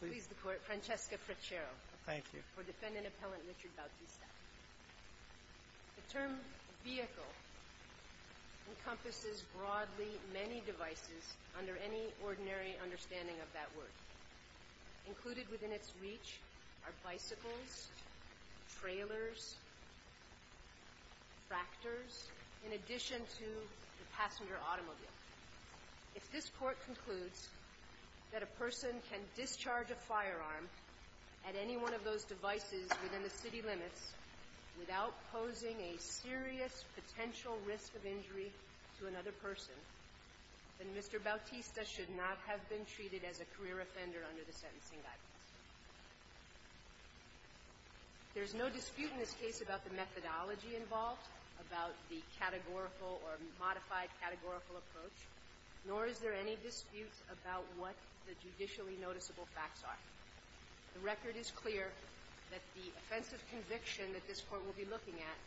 The term vehicle encompasses broadly many devices under any ordinary understanding of that word. Included within its reach are bicycles, trailers, tractors, in addition to the passenger automobile. If this Court concludes that a person can discharge a firearm at any one of those devices within the city limits without posing a serious potential risk of injury to another person, then Mr. Bautista should not have been treated as a career offender under the sentencing guidance. There's no dispute in this case about the methodology involved, about the categorical or modified categorical approach, nor is there any dispute about what the judicially noticeable facts are. The record is clear that the offensive conviction that this Court will be looking at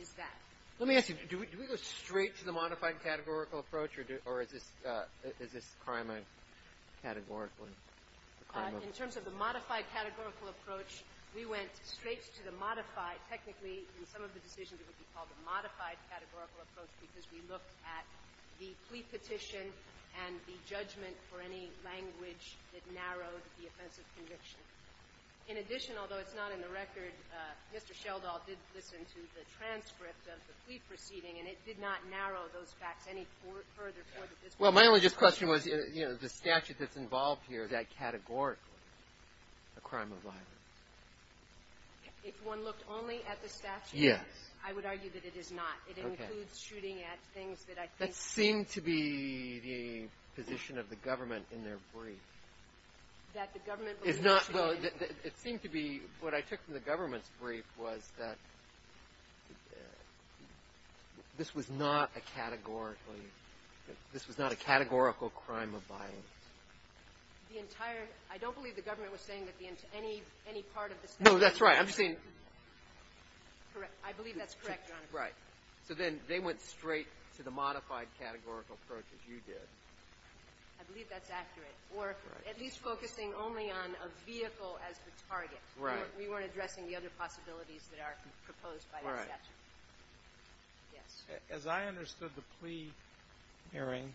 is that. Let me ask you, do we go straight to the modified categorical approach or is this crime a categorical crime? In terms of the modified categorical approach, we went straight to the modified. Technically, in some of the decisions, it would be called the modified categorical approach because we looked at the plea petition and the judgment for any language that narrowed the offensive conviction. In addition, although it's not in the record, Mr. Sheldahl did listen to the transcript of the plea proceeding, and it did not narrow those facts any further for the district. Well, my only just question was, you know, the statute that's involved here, is that categorically a crime of violence? If one looked only at the statute, I would argue that it is not. It includes shooting at things that I think... That seemed to be the position of the government in their brief. That the government believes... Well, it seemed to be, what I took from the government's brief was that this was not a categorically – this was not a categorical crime of violence. The entire – I don't believe the government was saying that any part of this... No, that's right. I'm just saying... I believe that's correct, Your Honor. Right. So then they went straight to the modified categorical approach, as you did. I believe that's accurate. Or at least focusing only on a vehicle as the target. Right. We weren't addressing the other possibilities that are proposed by the statute. Right. Yes. As I understood the plea hearing,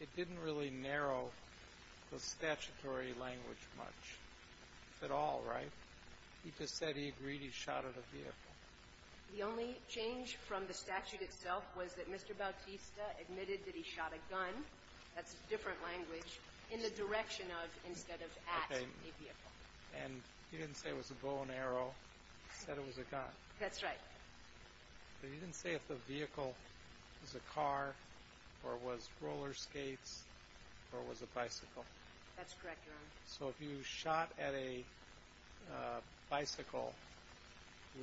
it didn't really narrow the statutory language much at all, right? He just said he agreed he shot at a vehicle. The only change from the statute itself was that Mr. Bautista admitted that he shot a gun – that's a different language – in the direction of instead of at a vehicle. Okay. And he didn't say it was a bow and arrow. He said it was a gun. That's right. But he didn't say if the vehicle was a car or was roller skates or was a bicycle. That's correct, Your Honor. So if you shot at a bicycle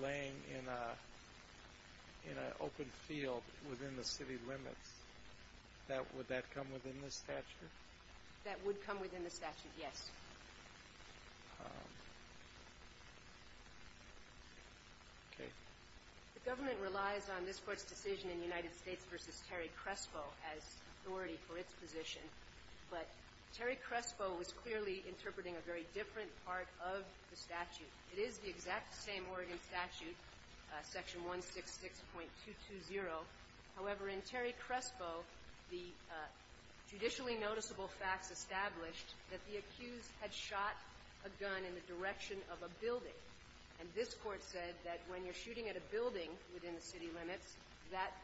laying in an open field within the city limits, would that come within the statute? That would come within the statute, yes. Okay. The government relies on this Court's decision in United States v. Terry Crespo as authority for its position, but Terry Crespo was clearly interpreting a very different part of the statute. It is the exact same Oregon statute, Section 166.220. However, in Terry Crespo, the judicially noticeable facts established that the accused had shot a gun in the direction of a building. And this Court said that when you're shooting at a building within the city limits, that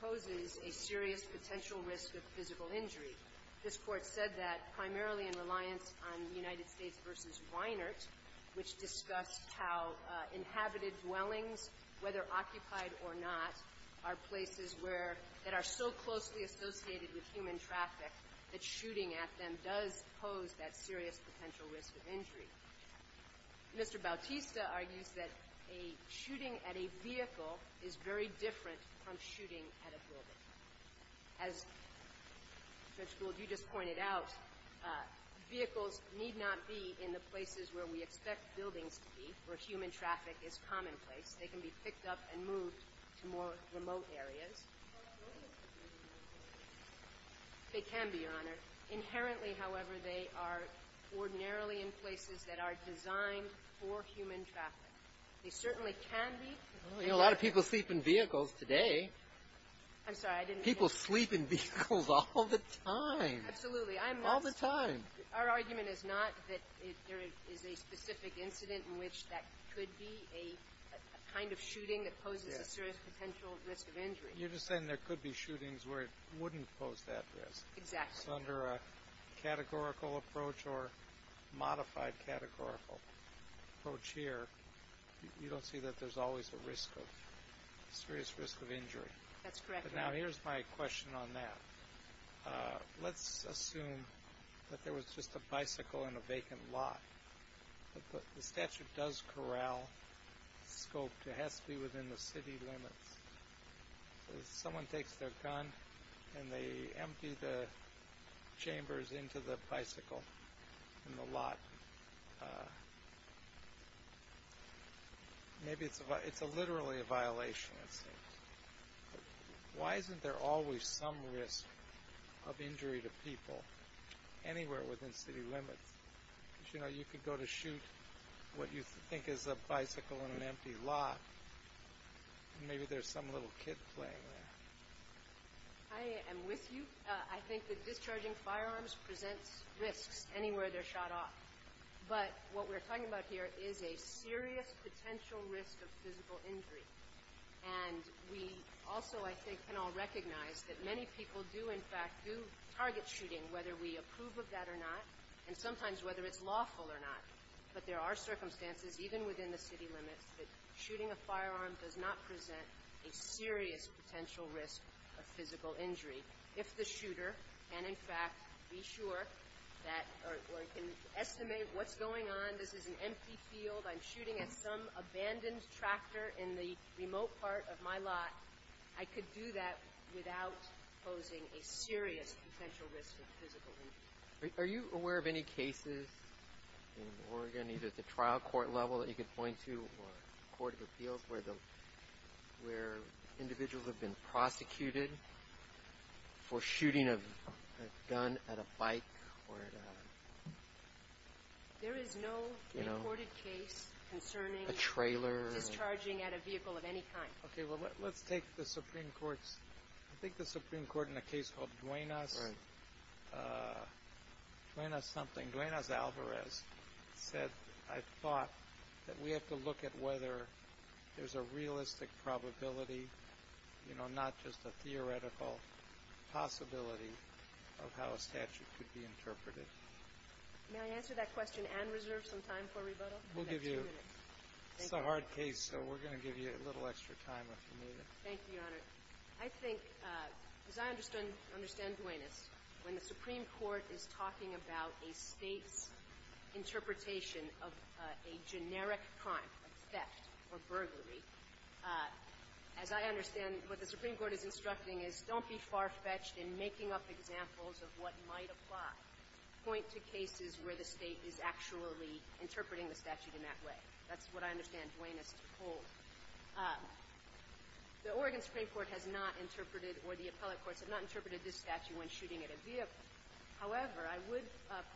poses a serious potential risk of physical injury. This Court said that primarily in reliance on United States v. Reinhart, which discussed how inhabited dwellings, whether occupied or not, are places that are so closely associated with human traffic that shooting at them does pose that serious potential risk of injury. Mr. Bautista argues that shooting at a vehicle is very different from shooting at a building. As Judge Gould, you just pointed out, vehicles need not be in the places where we expect buildings to be, where human traffic is commonplace. They can be picked up and moved to more remote areas. They can be, Your Honor. Currently, however, they are ordinarily in places that are designed for human traffic. They certainly can be. A lot of people sleep in vehicles today. I'm sorry. People sleep in vehicles all the time. Absolutely. All the time. Our argument is not that there is a specific incident in which that could be a kind of shooting that poses a serious potential risk of injury. You're just saying there could be shootings where it wouldn't pose that risk. Exactly. So under a categorical approach or modified categorical approach here, you don't see that there's always a serious risk of injury. That's correct, Your Honor. Now here's my question on that. Let's assume that there was just a bicycle in a vacant lot. The statute does corral scope. It has to be within the city limits. Someone takes their gun and they empty the chambers into the bicycle in the lot. Maybe it's literally a violation. Why isn't there always some risk of injury to people anywhere within city limits? You know, you could go to shoot what you think is a bicycle in an empty lot. Maybe there's some little kid playing there. I am with you. I think that discharging firearms presents risks anywhere they're shot off. But what we're talking about here is a serious potential risk of physical injury. And we also, I think, can all recognize that many people do, in fact, do target shooting, whether we approve of that or not, and sometimes whether it's lawful or not. But there are circumstances, even within the city limits, that shooting a firearm does not present a serious potential risk of physical injury. If the shooter can, in fact, be sure that or can estimate what's going on, this is an empty field, I'm shooting at some abandoned tractor in the remote part of my lot, I could do that without posing a serious potential risk of physical injury. Are you aware of any cases in Oregon, either at the trial court level that you could point to or court of appeals, where individuals have been prosecuted for shooting a gun at a bike? There is no reported case concerning discharging at a vehicle of any kind. Okay, well, let's take the Supreme Court's, I think the Supreme Court in a case called Duenas. Right. Duenas something, Duenas-Alvarez, said, I thought that we have to look at whether there's a realistic probability, you know, not just a theoretical possibility of how a statute could be interpreted. May I answer that question and reserve some time for rebuttal? We'll give you, it's a hard case, so we're going to give you a little extra time if you need it. Thank you, Your Honor. I think, as I understand Duenas, when the Supreme Court is talking about a State's interpretation of a generic crime, a theft or burglary, as I understand, what the Supreme Court is instructing is, don't be far-fetched in making up examples of what might apply. Point to cases where the State is actually interpreting the statute in that way. That's what I understand Duenas to hold. The Oregon Supreme Court has not interpreted, or the appellate courts have not interpreted this statute when shooting at a vehicle. However, I would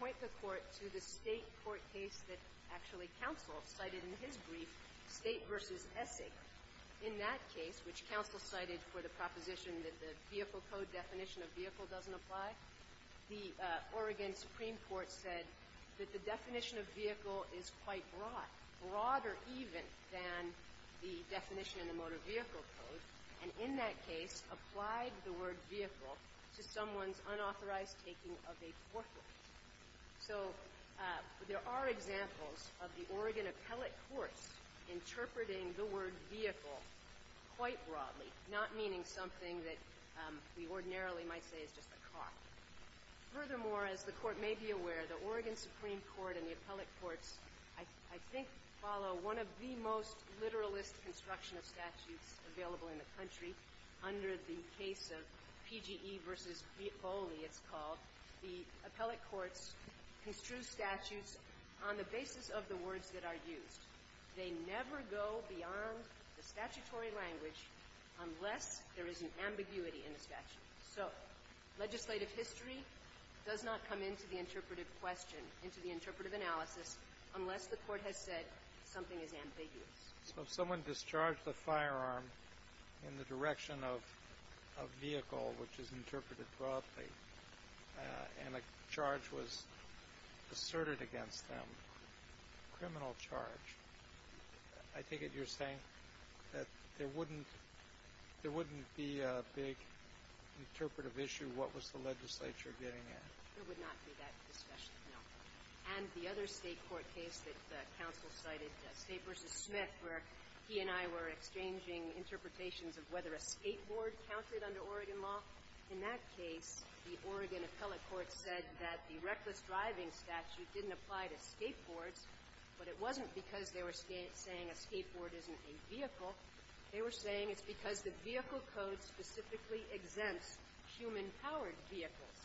point the Court to the State court case that actually counsel cited in his brief, State v. Essig. In that case, which counsel cited for the proposition that the vehicle code definition of vehicle doesn't apply, the Oregon Supreme Court said that the definition of vehicle is quite broad, broader even than the definition in the motor vehicle code, and in that case applied the word vehicle to someone's unauthorized taking of a corporate. So there are examples of the Oregon appellate courts interpreting the word vehicle quite broadly, not meaning something that we ordinarily might say is just a car. Furthermore, as the Court may be aware, the Oregon Supreme Court and the appellate courts, I think, follow one of the most literalist construction of statutes available in the country. Under the case of PGE v. Foley, it's called, the appellate courts construe statutes on the basis of the words that are used. They never go beyond the statutory language unless there is an ambiguity in the statute. So legislative history does not come into the interpretive question, into the interpretive analysis, unless the Court has said something is ambiguous. So if someone discharged a firearm in the direction of a vehicle which is interpreted broadly and a charge was asserted against them, a criminal charge, I take it you're saying that there wouldn't be a big interpretive issue, what was the legislature getting at? It would not be that discussion, no. And the other State court case that counsel cited, State v. Smith, where he and I were exchanging interpretations of whether a skateboard counted under Oregon law, in that case, the Oregon appellate court said that the reckless driving statute didn't apply to skateboards, but it wasn't because they were saying a skateboard isn't a vehicle. They were saying it's because the vehicle code specifically exempts human-powered vehicles.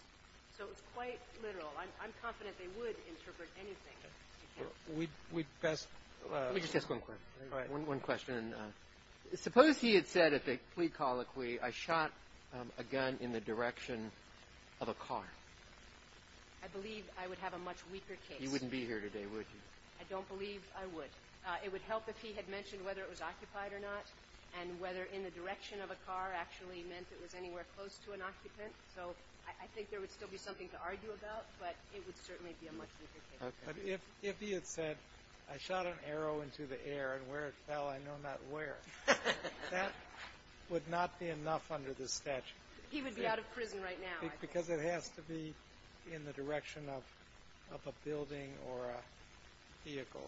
So it's quite literal. I'm confident they would interpret anything. We'd best ---- Let me just ask one question. All right. One question. Suppose he had said at the plea colloquy, I shot a gun in the direction of a car. I believe I would have a much weaker case. You wouldn't be here today, would you? I don't believe I would. It would help if he had mentioned whether it was occupied or not and whether in the direction of a car actually meant it was anywhere close to an occupant. So I think there would still be something to argue about, but it would certainly be a much weaker case. Okay. But if he had said, I shot an arrow into the air, and where it fell, I know not where, that would not be enough under the statute. He would be out of prison right now, I think. Because it has to be in the direction of a building or a vehicle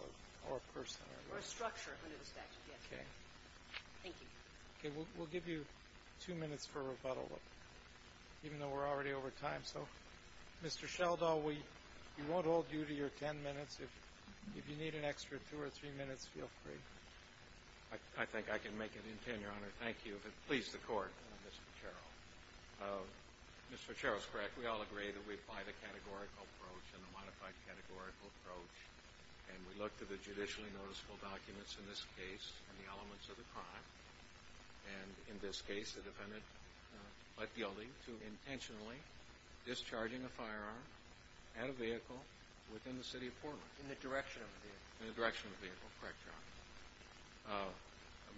or a person. Or a structure under the statute. Okay. Thank you. Okay. We'll give you two minutes for rebuttal, even though we're already over time. So, Mr. Sheldahl, we won't hold you to your ten minutes. If you need an extra two or three minutes, feel free. I think I can make it in ten, Your Honor. Thank you. If it pleases the Court. Mr. Sheldahl. Mr. Fitzgerald. Mr. Fitzgerald is correct. We all agree that we apply the categorical approach and the modified categorical approach. And we look to the judicially noticeable documents in this case and the elements of the crime. And in this case, the defendant led the elding to intentionally discharging a firearm at a vehicle within the city of Portland. In the direction of a vehicle. In the direction of a vehicle. Correct, Your Honor.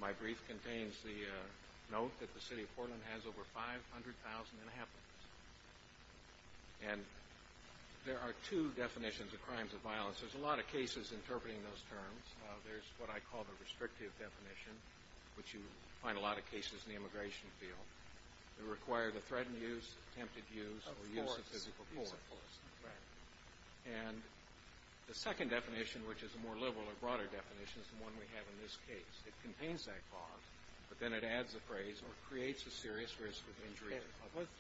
My brief contains the note that the city of Portland has over 500,000 inhabitants. And there are two definitions of crimes of violence. There's a lot of cases interpreting those terms. There's what I call the restrictive definition, which you find a lot of cases in the immigration field. It requires a threatened use, attempted use, or use of physical force. Of force. Right. And the second definition, which is a more liberal or broader definition, is the one we have in this case. It contains that clause, but then it adds a phrase, or creates a serious risk of injury.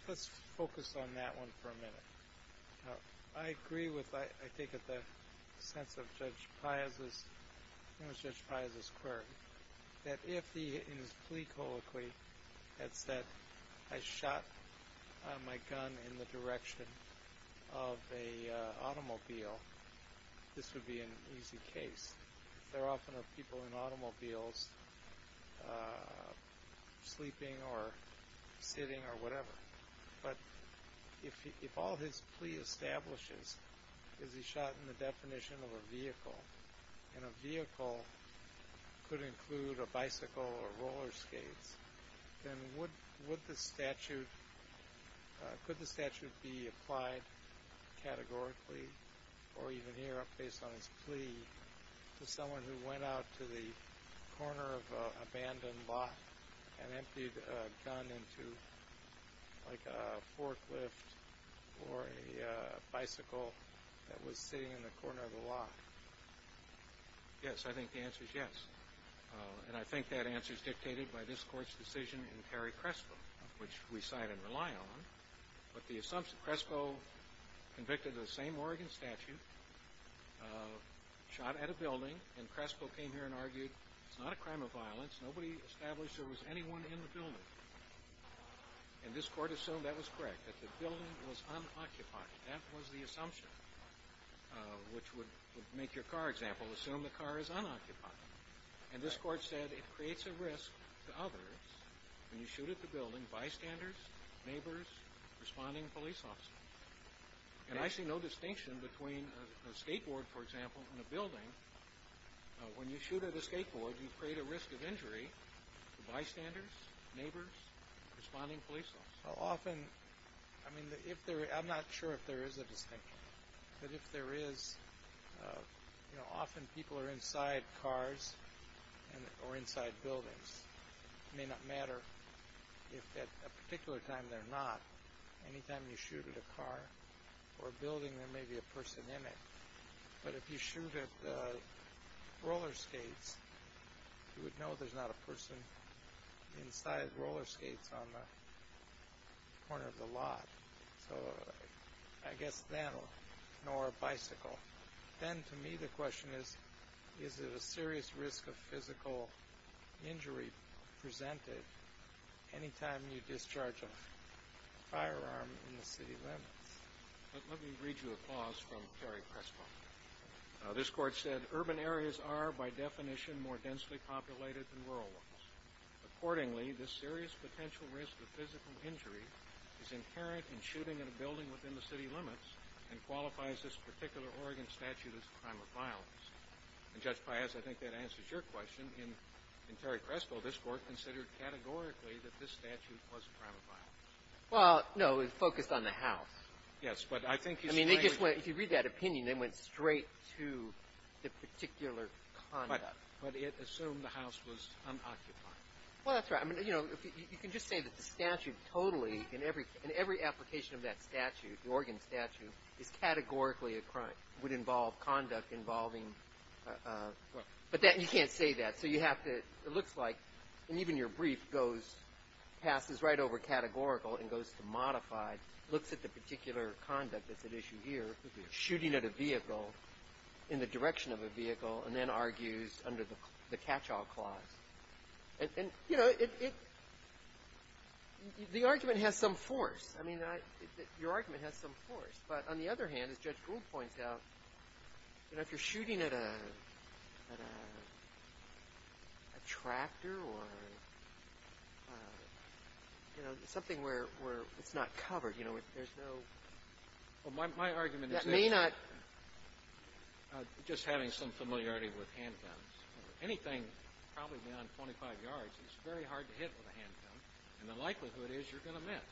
Let's focus on that one for a minute. I agree with, I think, with the sense of Judge Piazza's query. That if he, in his plea colloquy, had said, I shot my gun in the direction of a automobile, this would be an easy case. There often are people in automobiles sleeping or sitting or whatever. But if all his plea establishes is he shot in the definition of a vehicle, and a vehicle could include a bicycle or roller skates, then would the statute, could the statute be applied categorically, or even here, based on his plea, to someone who went out to the corner of an abandoned lot and emptied a gun into, like, a forklift or a bicycle that was sitting in the corner of the lot? Yes, I think the answer is yes. And I think that answer is dictated by this Court's decision in Perry-Crespo, which we cite and rely on. But the assumption, Crespo convicted of the same Oregon statute, shot at a building, and Crespo came here and argued it's not a crime of violence. Nobody established there was anyone in the building. And this Court assumed that was correct, that the building was unoccupied. That was the assumption, which would make your car example, assume the car is unoccupied. And this Court said it creates a risk to others when you shoot at the building, bystanders, neighbors, responding police officers. And I see no distinction between a skateboard, for example, and a building. When you shoot at a skateboard, you create a risk of injury to bystanders, neighbors, responding police officers. Often, I mean, I'm not sure if there is a distinction. But if there is, you know, often people are inside cars or inside buildings. It may not matter if at a particular time they're not. Anytime you shoot at a car or a building, there may be a person in it. But if you shoot at roller skates, you would know there's not a person inside roller skates on the corner of the lot. So I guess then, nor a bicycle. Then, to me, the question is, is it a serious risk of physical injury presented anytime you discharge a firearm in the city limits? Let me read you a clause from Terry Crespo. This Court said, Urban areas are, by definition, more densely populated than rural ones. Accordingly, this serious potential risk of physical injury is inherent in shooting at a building within the city limits and qualifies this particular Oregon statute as a crime of violence. And, Judge Paez, I think that answers your question. In Terry Crespo, this Court considered categorically that this statute was a crime of violence. Well, no. It focused on the house. Yes. But I think he's trying to be If you read that opinion, they went straight to the particular conduct. But it assumed the house was unoccupied. Well, that's right. I mean, you know, you can just say that the statute totally, in every application of that statute, the Oregon statute, is categorically a crime, would involve conduct involving But that you can't say that. So you have to, it looks like, and even your brief goes, passes right over categorical and goes to modified, looks at the particular conduct that's at issue here, shooting at a vehicle, in the direction of a vehicle, and then argues under the catch-all clause. And, you know, the argument has some force. I mean, your argument has some force. But on the other hand, as Judge Gould points out, you know, if you're shooting at a tractor or, you know, something where it's not covered, you know, there's no Well, my argument is that That may not Just having some familiarity with handguns, anything probably beyond 25 yards is very hard to hit with a handgun, and the likelihood is you're going to miss.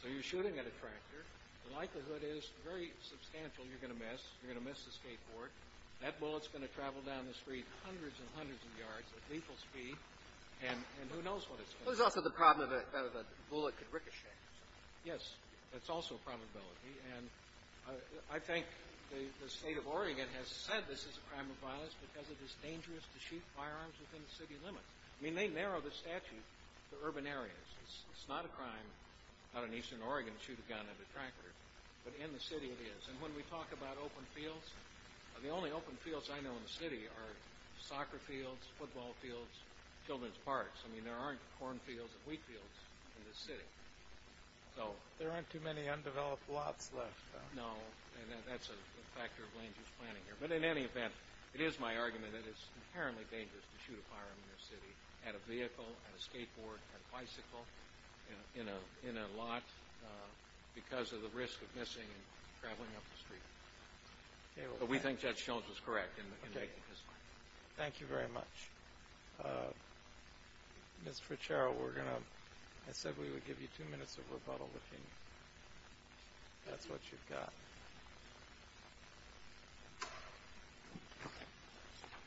So you're shooting at a tractor. The likelihood is very substantial you're going to miss. You're going to miss the skateboard. That bullet's going to travel down the street hundreds and hundreds of yards at lethal speed, and who knows what it's going to do. Well, there's also the problem that a bullet could ricochet. Yes. That's also a probability. And I think the State of Oregon has said this is a crime of violence because it is dangerous to shoot firearms within the city limits. I mean, they narrow the statute to urban areas. It's not a crime out in eastern Oregon to shoot a gun at a tractor, but in the city it is. And when we talk about open fields, the only open fields I know in the city are soccer fields, football fields, children's parks. I mean, there aren't corn fields and wheat fields in this city. There aren't too many undeveloped lots left. No, and that's a factor of land use planning here. But in any event, it is my argument that it's inherently dangerous to shoot a firearm in a vehicle, in a skateboard, in a bicycle, in a lot because of the risk of missing and traveling up the street. But we think Judge Sheldahl was correct in making this point. Okay. Thank you very much. Mr. Fitzgerald, we're going to – I said we would give you two minutes of rebuttal if that's what you've got.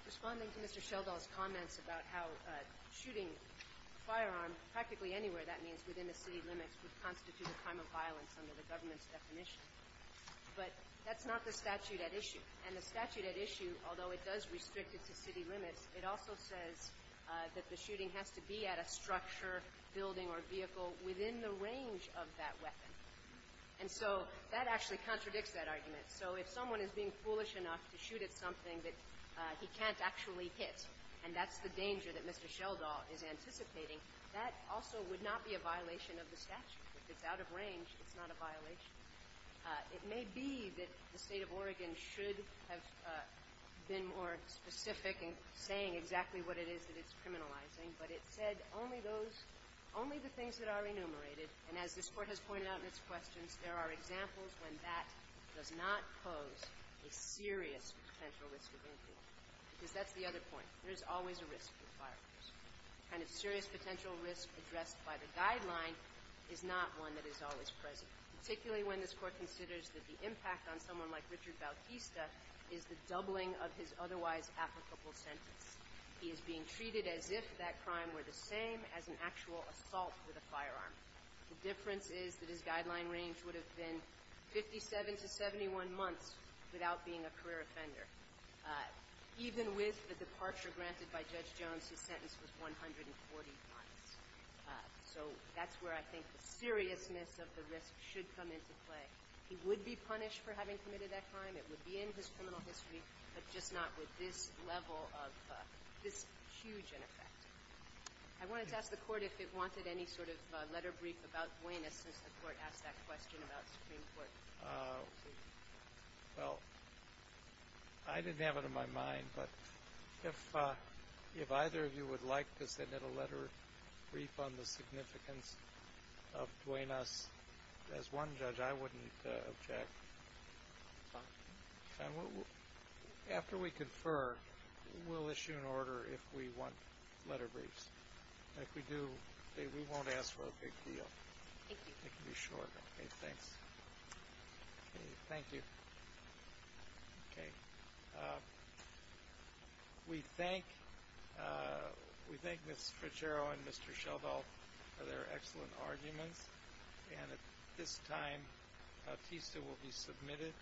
Responding to Mr. Sheldahl's comments about how shooting a firearm practically anywhere, that means within the city limits, would constitute a crime of violence under the government's definition. But that's not the statute at issue. And the statute at issue, although it does restrict it to city limits, it also says that the shooting has to be at a structure, building, or vehicle within the range of that weapon. And so that actually contradicts that argument. So if someone is being foolish enough to shoot at something that he can't actually hit, and that's the danger that Mr. Sheldahl is anticipating, that also would not be a violation of the statute. If it's out of range, it's not a violation. It may be that the State of Oregon should have been more specific in saying exactly what it is that it's criminalizing, but it said only those – only the things that are enumerated. And as this Court has pointed out in its questions, there are examples when that does not pose a serious potential risk of injury. Because that's the other point. There is always a risk with firearms. The kind of serious potential risk addressed by the guideline is not one that is always present, particularly when this Court considers that the impact on someone like Richard Bautista is the doubling of his otherwise applicable sentence. He is being treated as if that crime were the same as an actual assault with a firearm. The difference is that his guideline range would have been 57 to 71 months without being a career offender. Even with the departure granted by Judge Jones, his sentence was 140 months. So that's where I think the seriousness of the risk should come into play. He would be punished for having committed that crime. It would be in his criminal history, but just not with this level of – this huge ineffect. I wanted to ask the Court if it wanted any sort of letter brief about Duenas since the Court asked that question about the Supreme Court. Well, I didn't have it on my mind, but if either of you would like to send in a letter brief on the significance of Duenas, as one judge, I wouldn't object. After we confer, we'll issue an order if we want letter briefs. If we do, we won't ask for a big deal. Thank you. It can be short. Okay, thanks. Thank you. Okay. We thank Ms. Frichero and Mr. Sheldahl for their excellent arguments, and at this time, a piece that will be submitted.